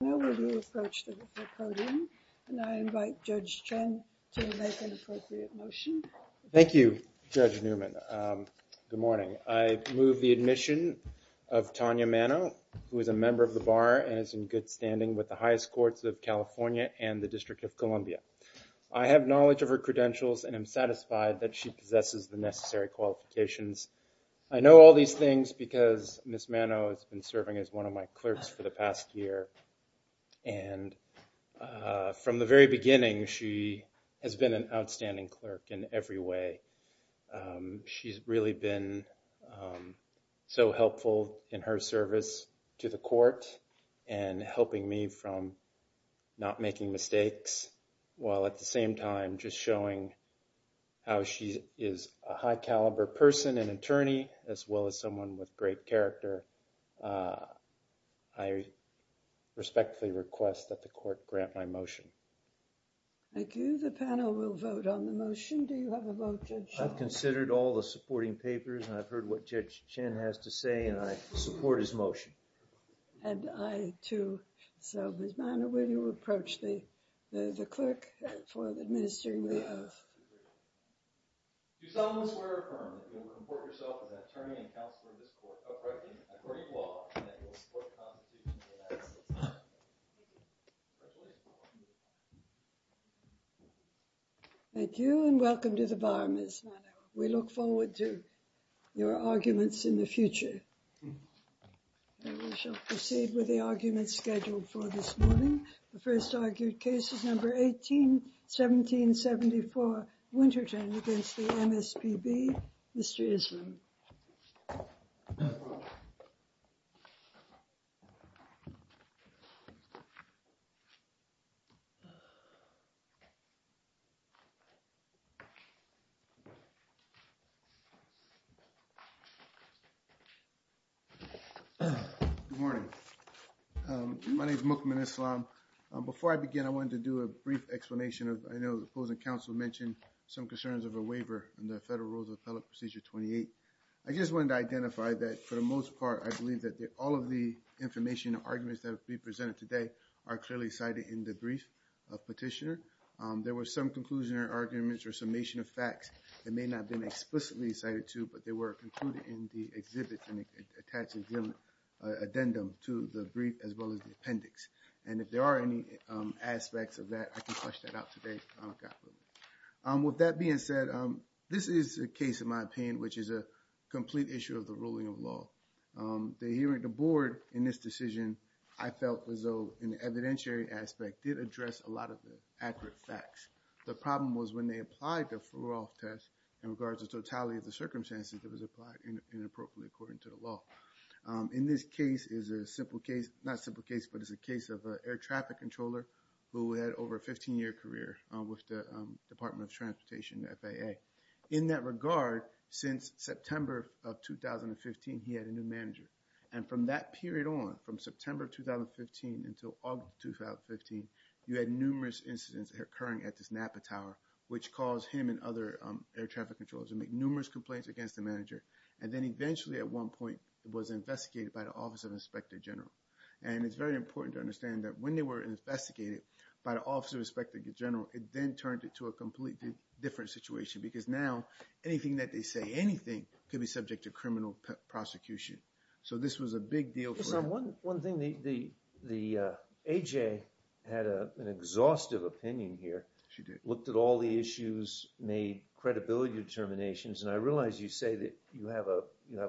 Now we will approach the podium, and I invite Judge Chen to make an appropriate motion. Thank you, Judge Newman. Good morning. I move the admission of Tanya Mano, who is a member of the Bar and is in good standing with the highest courts of California and the District of Columbia. I have knowledge of her credentials and am satisfied that she possesses the necessary qualifications. I know all these things because Ms. Mano has been serving as one of my clerks for the past year, and from the very beginning she has been an outstanding clerk in every way. She's really been so helpful in her service to the court and helping me from not making mistakes while at the same time just showing how she is a high caliber person and attorney as well as someone with great character. I respectfully request that the court grant my motion. Thank you. The panel will vote on the motion. Do you have a vote, Judge Shaw? I've considered all the supporting papers, and I've heard what Judge Chen has to say, and I support his motion. And I, too. So, Ms. Mano, will you approach the clerk for administering the oath? Thank you, and welcome to the Bar, Ms. Mano. We look forward to your arguments in the future. We shall proceed with the arguments scheduled for this morning. The first argued case is number 18-17-74, Winterton, against the MSPB. Mr. Islam. Good morning. My name is Mukman Islam. Before I wanted to do a brief explanation, I know the opposing counsel mentioned some concerns of a waiver in the Federal Rules of Appellate Procedure 28. I just wanted to identify that for the most part, I believe that all of the information and arguments that will be presented today are clearly cited in the brief petitioner. There were some conclusionary arguments or summation of facts that may not have been explicitly cited, too, but they were concluded in the exhibit and attached addendum to the brief, as well as the appendix. And if there are any aspects of that, I can flush that out today. With that being said, this is a case, in my opinion, which is a complete issue of the ruling of law. The hearing the board in this decision, I felt as though in the evidentiary aspect did address a lot of the accurate facts. The problem was when they applied the Furov test in regards to totality of the circumstances, it was applied inappropriately according to the law. In this case is a simple case, not simple case, but it's a case of an air traffic controller who had over a 15-year career with the Department of Transportation, FAA. In that regard, since September of 2015, he had a new manager. And from that period on, from September of 2015 until August of 2015, you had numerous incidents occurring at this Napa Tower, which caused him and other air traffic controllers to make numerous complaints against the manager. And then eventually at one point, it was investigated by the Office of Inspector General. And it's very important to understand that when they were investigated by the Office of Inspector General, it then turned it to a completely different situation. Because now, anything that they say, anything could be subject to criminal prosecution. So this was a big deal for him. One thing, the A.J. had an exhaustive opinion here. She did. Looked at all the issues, made credibility determinations. And I realize you say that you have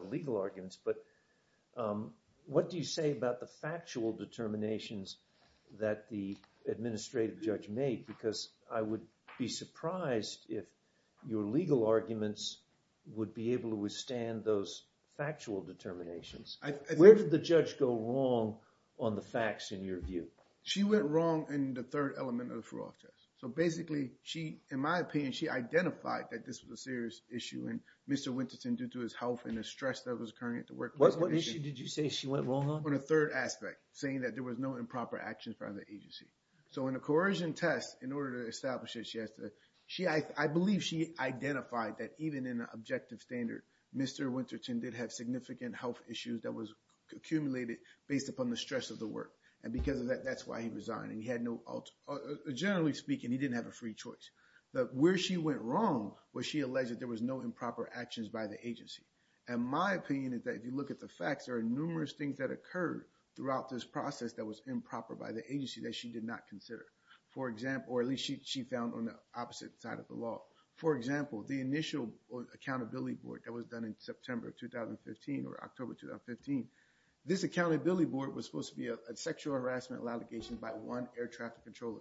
legal arguments, but what do you say about the factual determinations that the administrative judge made? Because I would be surprised if your legal arguments would be able to withstand those factual determinations. Where did the judge go wrong on the facts in your view? She went wrong in the third element of the Furov test. So basically, she, in my opinion, she identified that this was a serious issue. And Mr. Winterton, due to his health and the stress that was occurring at the workplace. What issue did you say she went wrong on? On a third aspect, saying that there was no improper actions by the agency. So in a coercion test, in order to establish it, she has to, I believe she identified that even in an objective standard, Mr. Winterton did have significant health issues that was accumulated based upon the stress of the work. And because of that, that's why he resigned. And he had no, generally speaking, he didn't have a free choice. But where she went wrong was she alleged that there was no improper actions by the agency. And my opinion is that if you look at the facts, there are numerous things that occurred throughout this process that was improper by the agency that she did not consider. For example, or at least she found on the opposite side of the law. For example, the initial accountability board that was done in September of 2015 or October 2015, this accountability board was supposed to be a sexual harassment allegation by one air traffic controller.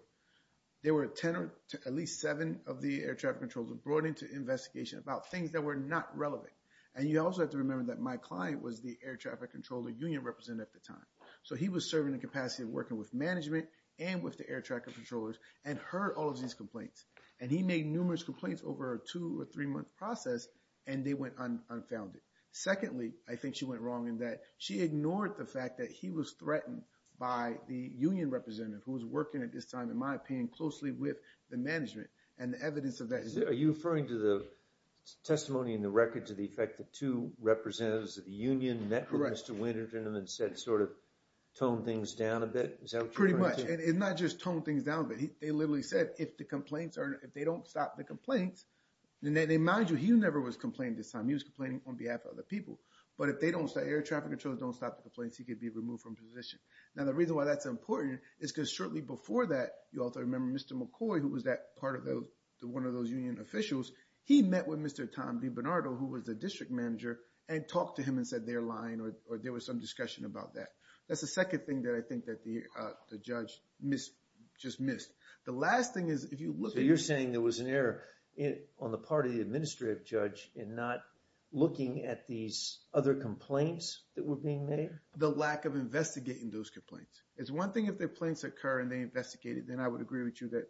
There were 10 or at least seven of the air traffic controllers brought into investigation about things that were not relevant. And you also have to remember that my client was the air traffic controller union representative at the time. So he was serving in capacity of working with management and with the air traffic controllers and heard all of these complaints. And he made numerous complaints over a two or three month process and they went unfounded. Secondly, I think she went wrong in that she ignored the fact that he was threatened by the union representative who was working at this time, in my opinion, closely with the management and the evidence of that. Are you referring to the testimony in the record to the effect that two representatives of the union network, Mr. Winterton, and then said sort of toned things down a bit? Pretty much. And it's not just toned things down, but they literally said if the complaints are, if they don't stop the complaints, then they, mind you, he never was complaining this time. He was complaining on behalf of other people. But if they don't say air traffic controllers don't stop the complaints, he could be removed from position. Now, the reason why that's important is because shortly before that, you also remember Mr. McCoy, who was that part of the, one of those union officials, he met with Mr. Tom DiBernardo, who was the district manager, and talked to him and said they're lying or there was some discussion about that. That's the second thing that I think that the judge missed, just missed. The last thing is, if you look at- So you're saying there was an error on the part of the administrative judge in not looking at these other complaints that were being made? The lack of investigating those complaints. It's one thing if the complaints occur and they investigate it, then I would agree with you that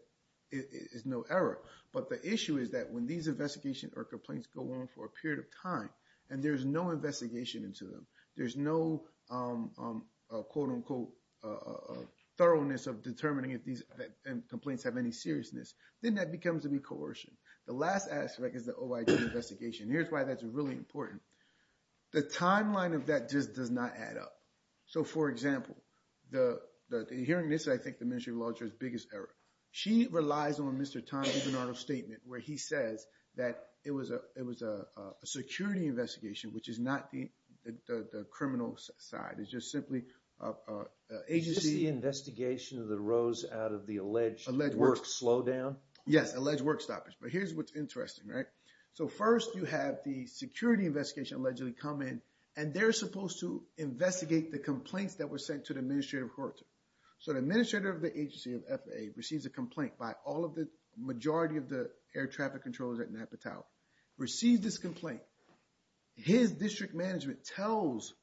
it is no error. But the issue is that when these investigations or complaints go on for a period of time and there's no investigation into them, there's no, quote unquote, thoroughness of determining if these complaints have any seriousness, then that becomes to be coercion. The last aspect is the OIG investigation. Here's why that's really important. The timeline of that just does not add up. So for example, the hearing this, I think the Ministry of Law Judge's biggest error. She relies on Mr. Tom DiBernardo's statement where he says that it was a security investigation, which is not the criminal side. It's just simply agency- Is this the investigation that arose out of the alleged work slowdown? Yes, alleged work stoppage. But here's what's interesting, right? So first you have the security investigation allegedly come in and they're supposed to investigate the complaints that were sent to the administrative court. So the administrator of the agency of FAA receives a complaint by all of the majority of the air traffic controllers at Napa Tau, receives this complaint. His district management tells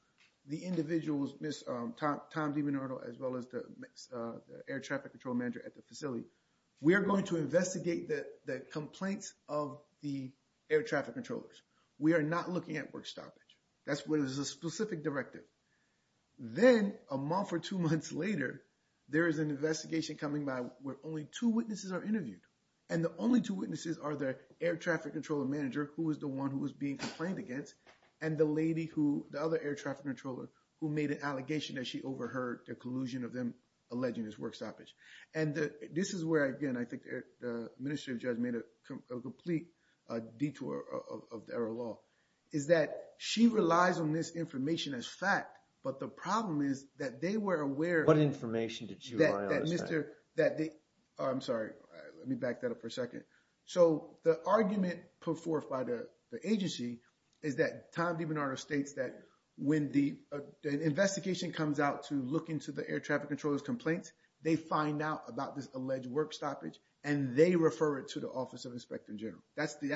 the individuals, Tom DiBernardo as well as the air traffic control manager at the facility, we are going to investigate the complaints of the air traffic controllers. We are not looking at work stoppage. That's where there's a specific directive. Then a month or two months later, there is an investigation coming by where only two witnesses are interviewed. And the only two witnesses are the air traffic control manager, who was the one who was being complained against, and the lady who, the other air traffic controller who made the allegation that she overheard the collusion of them alleging this work stoppage. And this is where, again, I think the administrative judge made a complete detour of the error law, is that she relies on this information as fact, but the problem is that they were aware- What information did she rely on as fact? That the, I'm sorry, let me back that up for a second. So the argument put forth by the agency is that Tom DiBernardo states that when the investigation comes out to look into the air traffic controller's complaints, they find out about this alleged work stoppage, and they refer it to the Office of Inspector General. That's the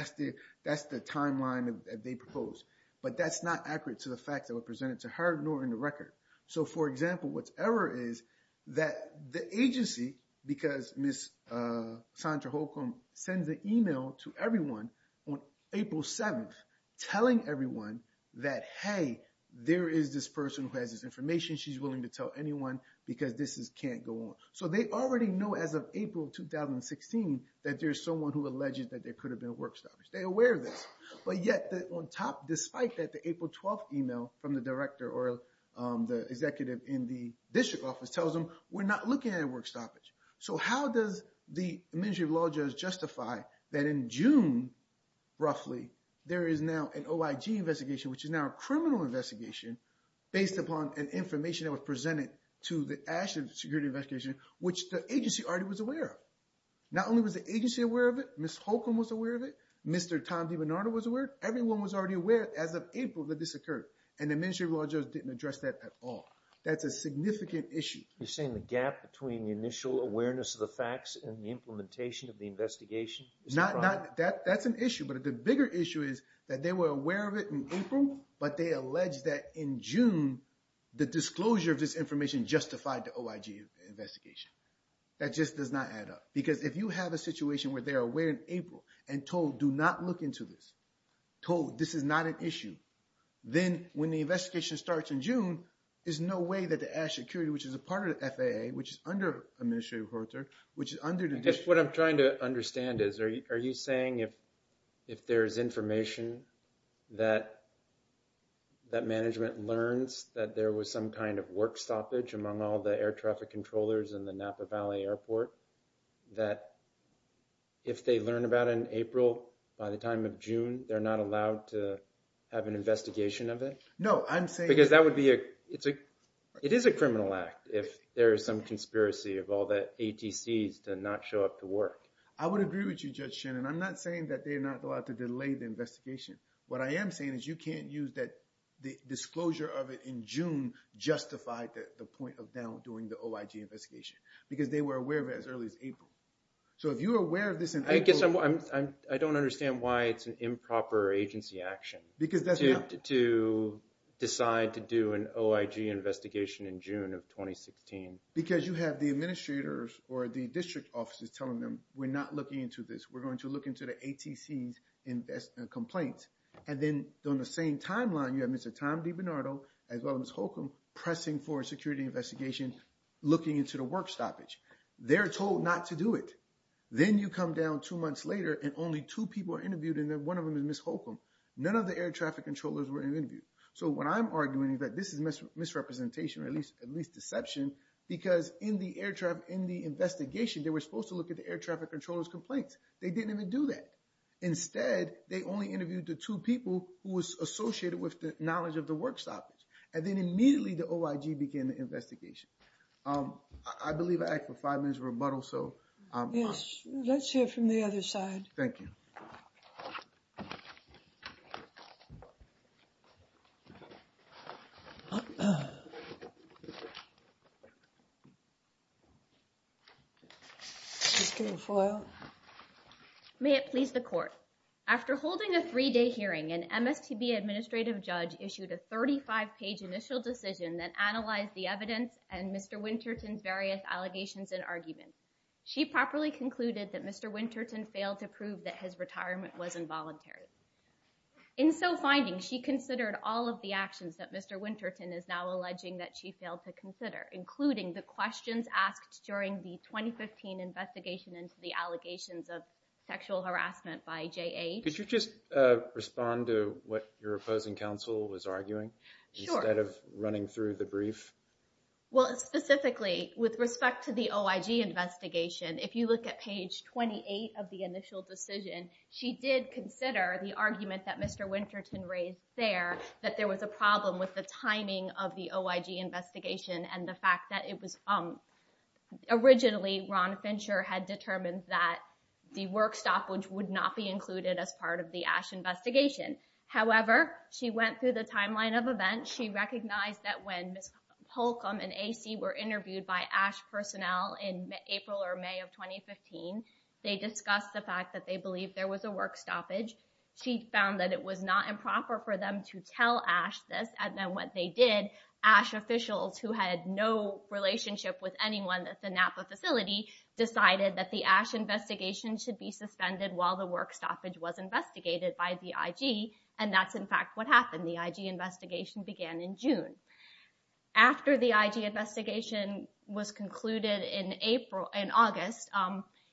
timeline that they propose. But that's not accurate to the facts that were presented to her, nor in the record. So for example, what's error is that the agency, because Ms. Sandra Holcomb sends an email to everyone on April 7th, telling everyone that, hey, there is this person who has this information, she's willing to tell anyone, because this can't go on. So they already know as of April 2016, that there's someone who alleges that there could have been a work stoppage. They're aware of this. But yet, on top, despite that, the April 12th email from the director or the executive in the district office tells them, we're not looking at a work stoppage. So how does the Ministry of Law and Justice justify that in June, roughly, there is now an OIG investigation, which is now a criminal investigation based upon an information that was presented to the Ashland Security Investigation, which the agency already was aware of. Not only was the agency aware of it, Ms. Holcomb was aware of it, Mr. Tom DiBernardo was aware, everyone was already aware as of April that this occurred. And the Ministry of Law and Justice didn't address that at all. That's a significant issue. You're saying the gap between the initial awareness of the facts and the implementation of the investigation? That's an issue. But the bigger issue is that they were aware of it in April, but they allege that in June, the disclosure of this information justified the OIG investigation. That just does not add up. Because if you have a situation where they're aware in April and told, do not look into this, told this is not an issue, then when the investigation starts in June, there's no way that the Ashland Security, which is a part of the FAA, which is under Administrative Corridor, which is under the... What I'm trying to understand is, are you saying if there's information that management learns that there was some kind of work stoppage among all the air traffic controllers in the Napa Valley Airport, that if they learn about it in April... Because it is a criminal act if there is some conspiracy of all the ATCs to not show up to work. I would agree with you, Judge Shannon. I'm not saying that they're not allowed to delay the investigation. What I am saying is you can't use that the disclosure of it in June justified the point of them doing the OIG investigation, because they were aware of it as early as April. So if you're aware of this in April... I guess I don't understand why it's an improper agency action to decide to do an OIG investigation in June of 2016. Because you have the administrators or the district offices telling them, we're not looking into this. We're going to look into the ATCs' complaint. And then on the same timeline, you have Mr. Tom DiBernardo, as well as Ms. Holcomb, pressing for a security investigation, looking into the work stoppage. They're told not to do it. Then you come down two months later, and only two people are interviewed, and one of them is Ms. Holcomb. None of the ATCs were interviewed. So what I'm arguing is that this is misrepresentation, or at least deception, because in the investigation, they were supposed to look at the ATCs' complaint. They didn't even do that. Instead, they only interviewed the two people who was associated with the knowledge of the work stoppage. And then immediately the OIG began the investigation. I believe I asked for that. Thank you. May it please the court. After holding a three-day hearing, an MSTB administrative judge issued a 35-page initial decision that analyzed the evidence and Mr. Winterton's various allegations and arguments. She properly concluded that Mr. Winterton failed to prove that his retirement was involuntary. In so finding, she considered all of the actions that Mr. Winterton is now alleging that she failed to consider, including the questions asked during the 2015 investigation into the allegations of sexual harassment by JAH. Could you just respond to what your opposing counsel was arguing? Sure. Instead of running through the brief. Well, specifically, with the OIG investigation, if you look at page 28 of the initial decision, she did consider the argument that Mr. Winterton raised there, that there was a problem with the timing of the OIG investigation and the fact that it was originally Ron Fincher had determined that the work stoppage would not be included as part of the ASH investigation. However, she went through the timeline of events. She recognized that when Ms. Holcomb and AC were interviewed by ASH personnel in April or May of 2015, they discussed the fact that they believed there was a work stoppage. She found that it was not improper for them to tell ASH this. And then what they did, ASH officials who had no relationship with anyone at the Napa facility decided that the ASH investigation should be suspended while the work stoppage was investigated by the IG and that's in fact what happened. The IG investigation began in June. After the IG investigation was concluded in August,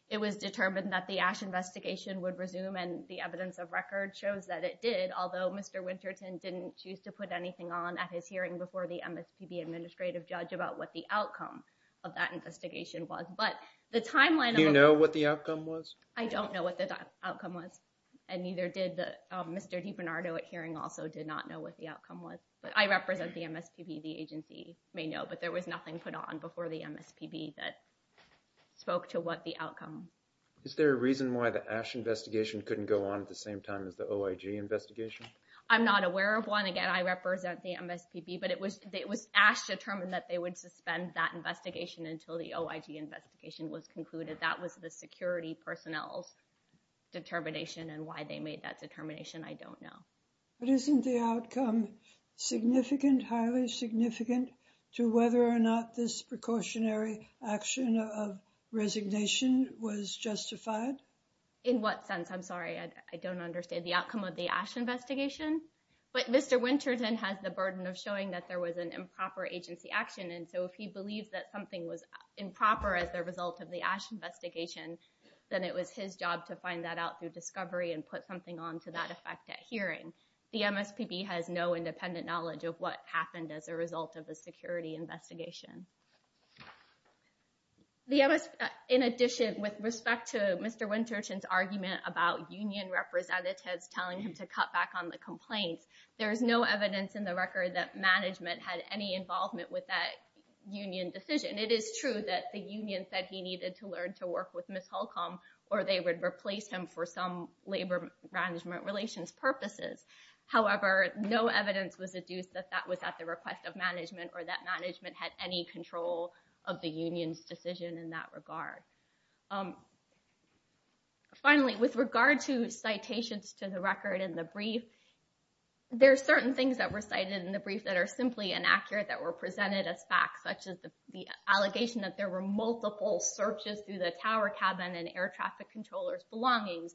it was determined that the ASH investigation would resume and the evidence of record shows that it did, although Mr. Winterton didn't choose to put anything on at his hearing before the MSPB administrative judge about what the outcome of that investigation was. But the timeline... Do you know what the outcome was? I don't know what the outcome was and neither did Mr. DiBernardo at hearing also did not know what the outcome was, but I represent the MSPB. The agency may know, but there was nothing put on before the MSPB that spoke to what the outcome was. Is there a reason why the ASH investigation couldn't go on at the same time as the OIG investigation? I'm not aware of one. Again, I represent the MSPB, but it was it was asked to determine that they would suspend that investigation until the OIG investigation was concluded. That was the security personnel's determination and why they made that determination. I don't know. But isn't the outcome significant, highly significant, to whether or not this precautionary action of resignation was justified? In what sense? I'm sorry, I don't understand the outcome of the ASH investigation, but Mr. Winterton has the burden of showing that there was an improper agency action. And so if he believes that something was improper as the result of the ASH investigation, then it was his job to find that out through discovery and put something on to that effect at hearing. The MSPB has no independent knowledge of what happened as a result of the security investigation. In addition, with respect to Mr. Winterton's argument about union representatives telling him to cut back on the complaints, there is no evidence in the record that management had any involvement with that union decision. It is true that the union said he needed to learn to work with Ms. Holcomb, or they would replace him for some labor management relations purposes. However, no evidence was deduced that that was at the request of management or that management had any control of the union's decision in that regard. Finally, with regard to citations to the record in the brief, there are certain things that were cited in the brief that are simply inaccurate that were presented as facts, such as the allegation that there were multiple searches through the tower cabin and air traffic controller's belongings.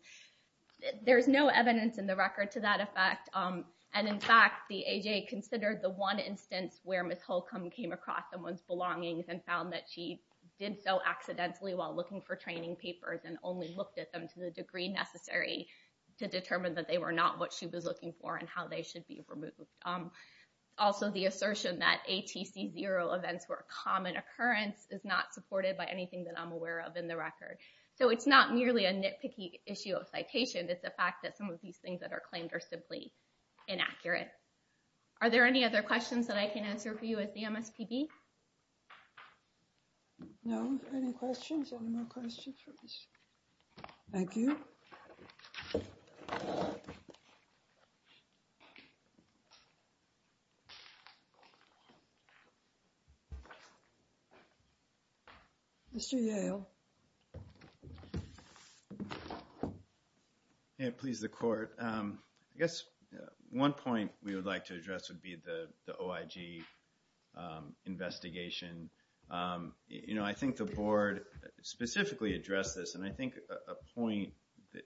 There's no evidence in the record to that effect. And in fact, the AHA considered the one instance where Ms. Holcomb came across someone's belongings and found that she did so accidentally while looking for training papers and only looked at them to the degree necessary to determine that they were not what she was looking for and how they should be removed. Also, the assertion that ATC zero events were a common occurrence is not supported by anything that I'm aware of in the record. So it's not merely a nitpicky issue of citation, it's the fact that some of these things that are claimed are simply inaccurate. Are there any other questions that I can answer for you at the MSPB? No. Any questions? Any more questions for Ms. Holcomb? Thank you. Mr. Yale. Yeah, please, the court. I guess one point we would like to address would be the OIG investigation. You know, I think the board specifically addressed this, and I think a point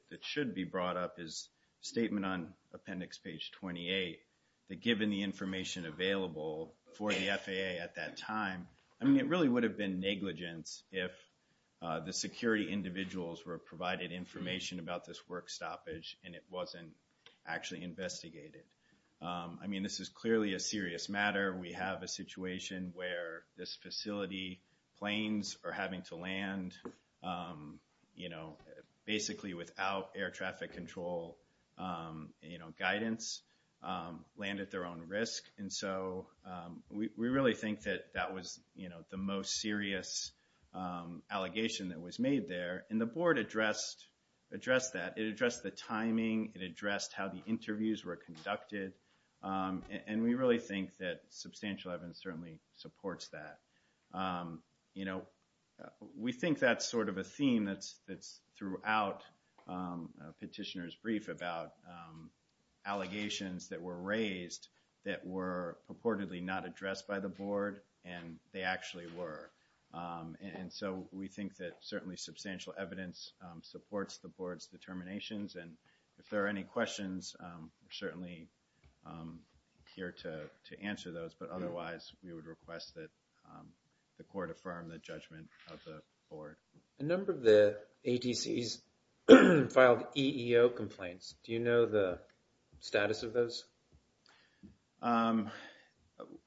that should be brought up is statement on appendix page 28, that given the information available for the FAA at that time, I mean, it really would have been negligence if the security individuals were provided information about this work stoppage and it wasn't actually investigated. I mean, this is clearly a serious matter. We have a situation where this facility planes are having to land, you know, basically without air traffic control, you know, guidance, land at their own risk. And so we really think that that was, you know, the most serious allegation that was made there. And the board addressed that. It addressed the timing, it addressed how the interviews were conducted. And we really think that substantial evidence certainly supports that. You know, we think that's sort of a theme that's throughout petitioner's brief about allegations that were raised that were purportedly not addressed by the board, and they actually were. And so we think that certainly substantial evidence supports the questions. We're certainly here to answer those, but otherwise we would request that the court affirm the judgment of the board. A number of the ATCs filed EEO complaints. Do you know the status of those?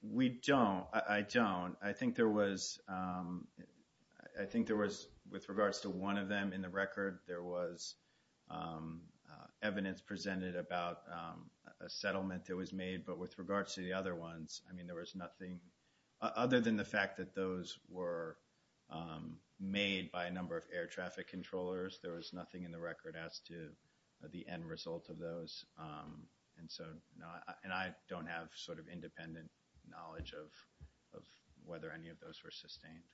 We don't. I don't. I think there was, I think there was, with regards to one of them in the record, there was evidence presented about a settlement that was made. But with regards to the other ones, I mean, there was nothing other than the fact that those were made by a number of air traffic controllers. There was nothing in the record as to the end result of those. And so, and I don't have sort of independent knowledge of whether any of those were sustained.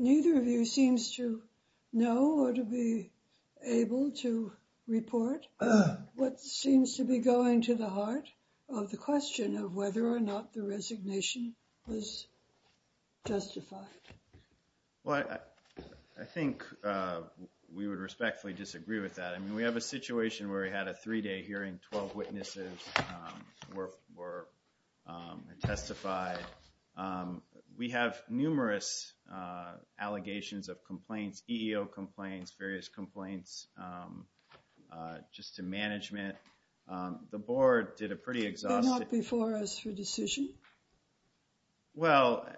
Neither of you seems to know or to be able to report what seems to be going to the heart of the question of whether or not the resignation was justified. Well, I think we would respectfully disagree with that. I mean, we have a situation where we had a were, were testified. We have numerous allegations of complaints, EEO complaints, various complaints, just to management. The board did a pretty exhaustive... They're not before us for decision? Well,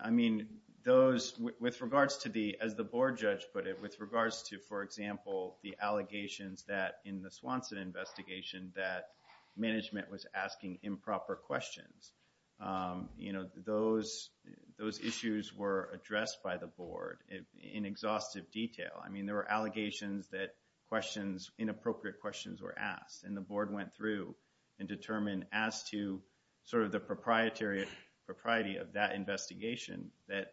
I mean, those, with regards to the, as the board judge put it, with regards to, for example, the allegations that in the Swanson investigation that management was asking improper questions. You know, those, those issues were addressed by the board in exhaustive detail. I mean, there were allegations that questions, inappropriate questions were asked. And the board went through and determined as to sort of the proprietary, propriety of that investigation that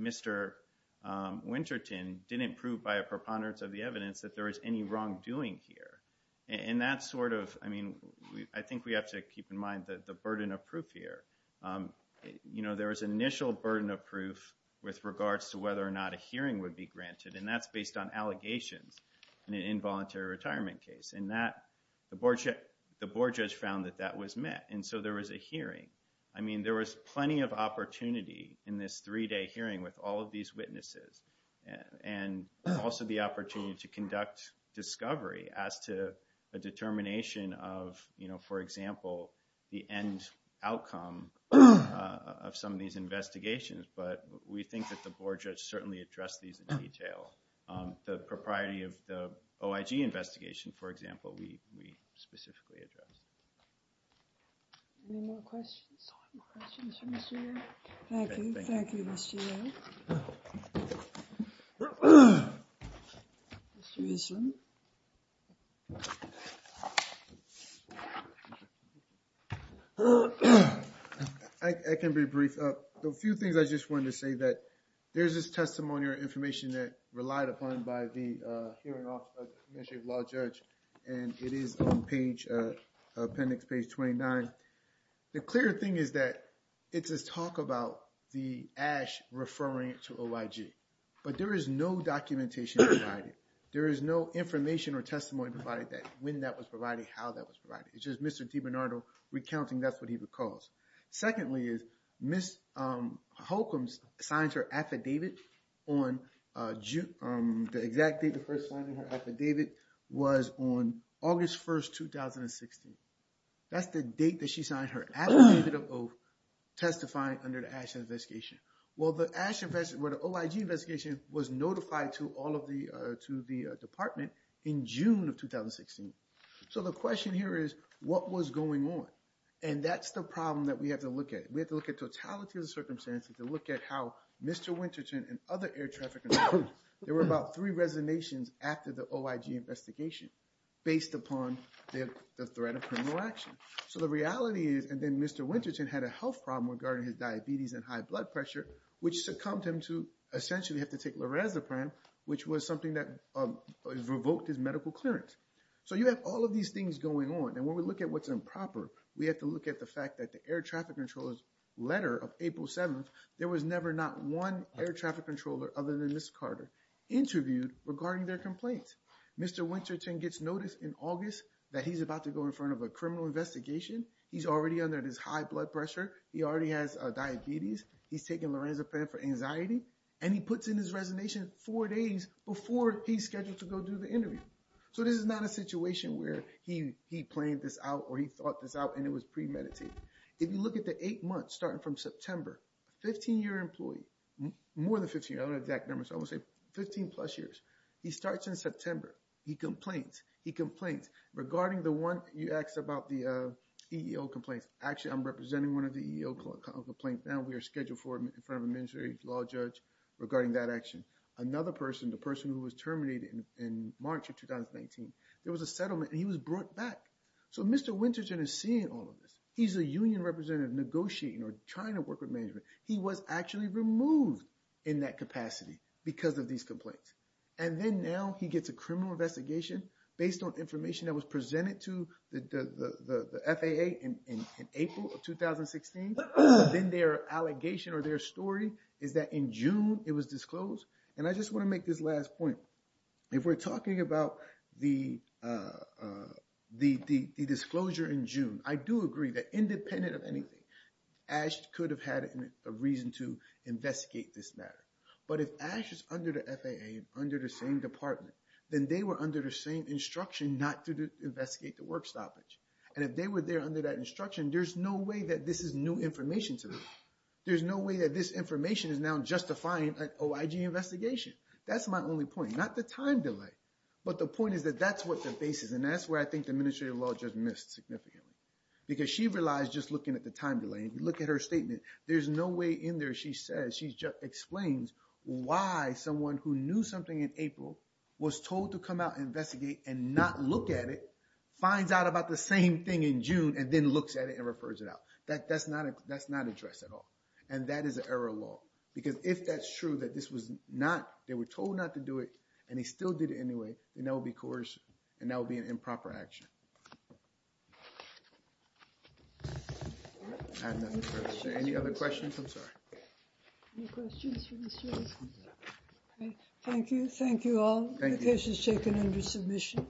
Mr. Winterton didn't prove by a preponderance of the evidence that there was any wrongdoing here. And that sort of, I mean, I think we have to keep in mind that the burden of proof here, you know, there was initial burden of proof with regards to whether or not a hearing would be granted. And that's based on allegations in an involuntary retirement case. And that the board, the board judge found that that was met. And so there was a hearing. I mean, there was plenty of opportunity in this three-day hearing with all of these to conduct discovery as to a determination of, you know, for example, the end outcome of some of these investigations. But we think that the board judge certainly addressed these in detail. The propriety of the OIG investigation, for example, we, we specifically addressed. Any more questions? Thank you. Thank you, Mr. Yeo. Mr. Eastman. I can be brief. A few things I just wanted to say that there's this testimony or information that relied upon by the hearing officer, the administrative law judge. And it is on page, appendix page 29. The clear thing is that it's a talk about the ash referring to OIG. But there is no documentation provided. There is no information or testimony provided that when that was provided, how that was provided. It's just Mr. DiBernardo recounting that's what he recalls. Secondly is Holcomb signs her affidavit on June. The exact date of her signing her affidavit was on August 1st, 2016. That's the date that she signed her affidavit of testifying under the ash investigation. Well, the OIG investigation was notified to all of the, to the department in June of 2016. So the question here is what was going on? And that's the problem that we have to look at. We have to look at the reality of the circumstances to look at how Mr. Winterton and other air traffic controllers, there were about three resonations after the OIG investigation based upon the threat of criminal action. So the reality is, and then Mr. Winterton had a health problem regarding his diabetes and high blood pressure, which succumbed him to essentially have to take lorazepam, which was something that revoked his medical clearance. So you have all of these things going on. And when we look at what's improper, we have to look at the fact that the air traffic controllers letter of April 7th, there was never not one air traffic controller other than Ms. Carter interviewed regarding their complaints. Mr. Winterton gets noticed in August that he's about to go in front of a criminal investigation. He's already under this high blood pressure. He already has a diabetes. He's taking lorazepam for anxiety and he puts in his resonation four days before he's scheduled to go do the interview. So this is not a situation where he, he planned this out or he thought this out and it was premeditated. If you look at the eight months starting from September, 15 year employee, more than 15, I don't have exact numbers, I would say 15 plus years. He starts in September. He complains, he complains regarding the one you asked about the, uh, EEO complaints. Actually, I'm representing one of the EEO complaints. Now we are scheduled for him in front of a ministry law judge regarding that action. Another person, the person who was terminated in March of 2019, there was a settlement and he was brought back. So Mr. Winterton is seeing all of this. He's a union representative negotiating or trying to work with management. He was actually removed in that capacity because of these complaints. And then now he gets a criminal investigation based on information that was presented to the, the, the, the FAA in, in, in April of 2016. Then their allegation or their story is that in June, it was disclosed. And I just want to make this last point. If we're talking about the, uh, uh, the, the, the disclosure in June, I do agree that independent of anything, Ash could have had a reason to investigate this matter. But if Ash is under the FAA, under the same department, then they were under the same instruction not to investigate the work stoppage. And if they were there under that instruction, there's no way that this is new information to them. There's no way that this information is now justifying an OIG investigation. That's my only point, not the time delay. But the point is that that's what the basis and that's where I think the administrative law just missed significantly. Because she realized just looking at the time delay, if you look at her statement, there's no way in there she says, she just explains why someone who knew something in April was told to come out and investigate and not look at it, finds out about the same thing in June and then looks at it and refers it out. That, that's not, that's not addressed at all. And that is an error of law. Because if that's true that this was not, they were told not to do it and they still did it anyway, then that would be an improper action. Any other questions? I'm sorry. Thank you. Thank you all. The case is taken under submission.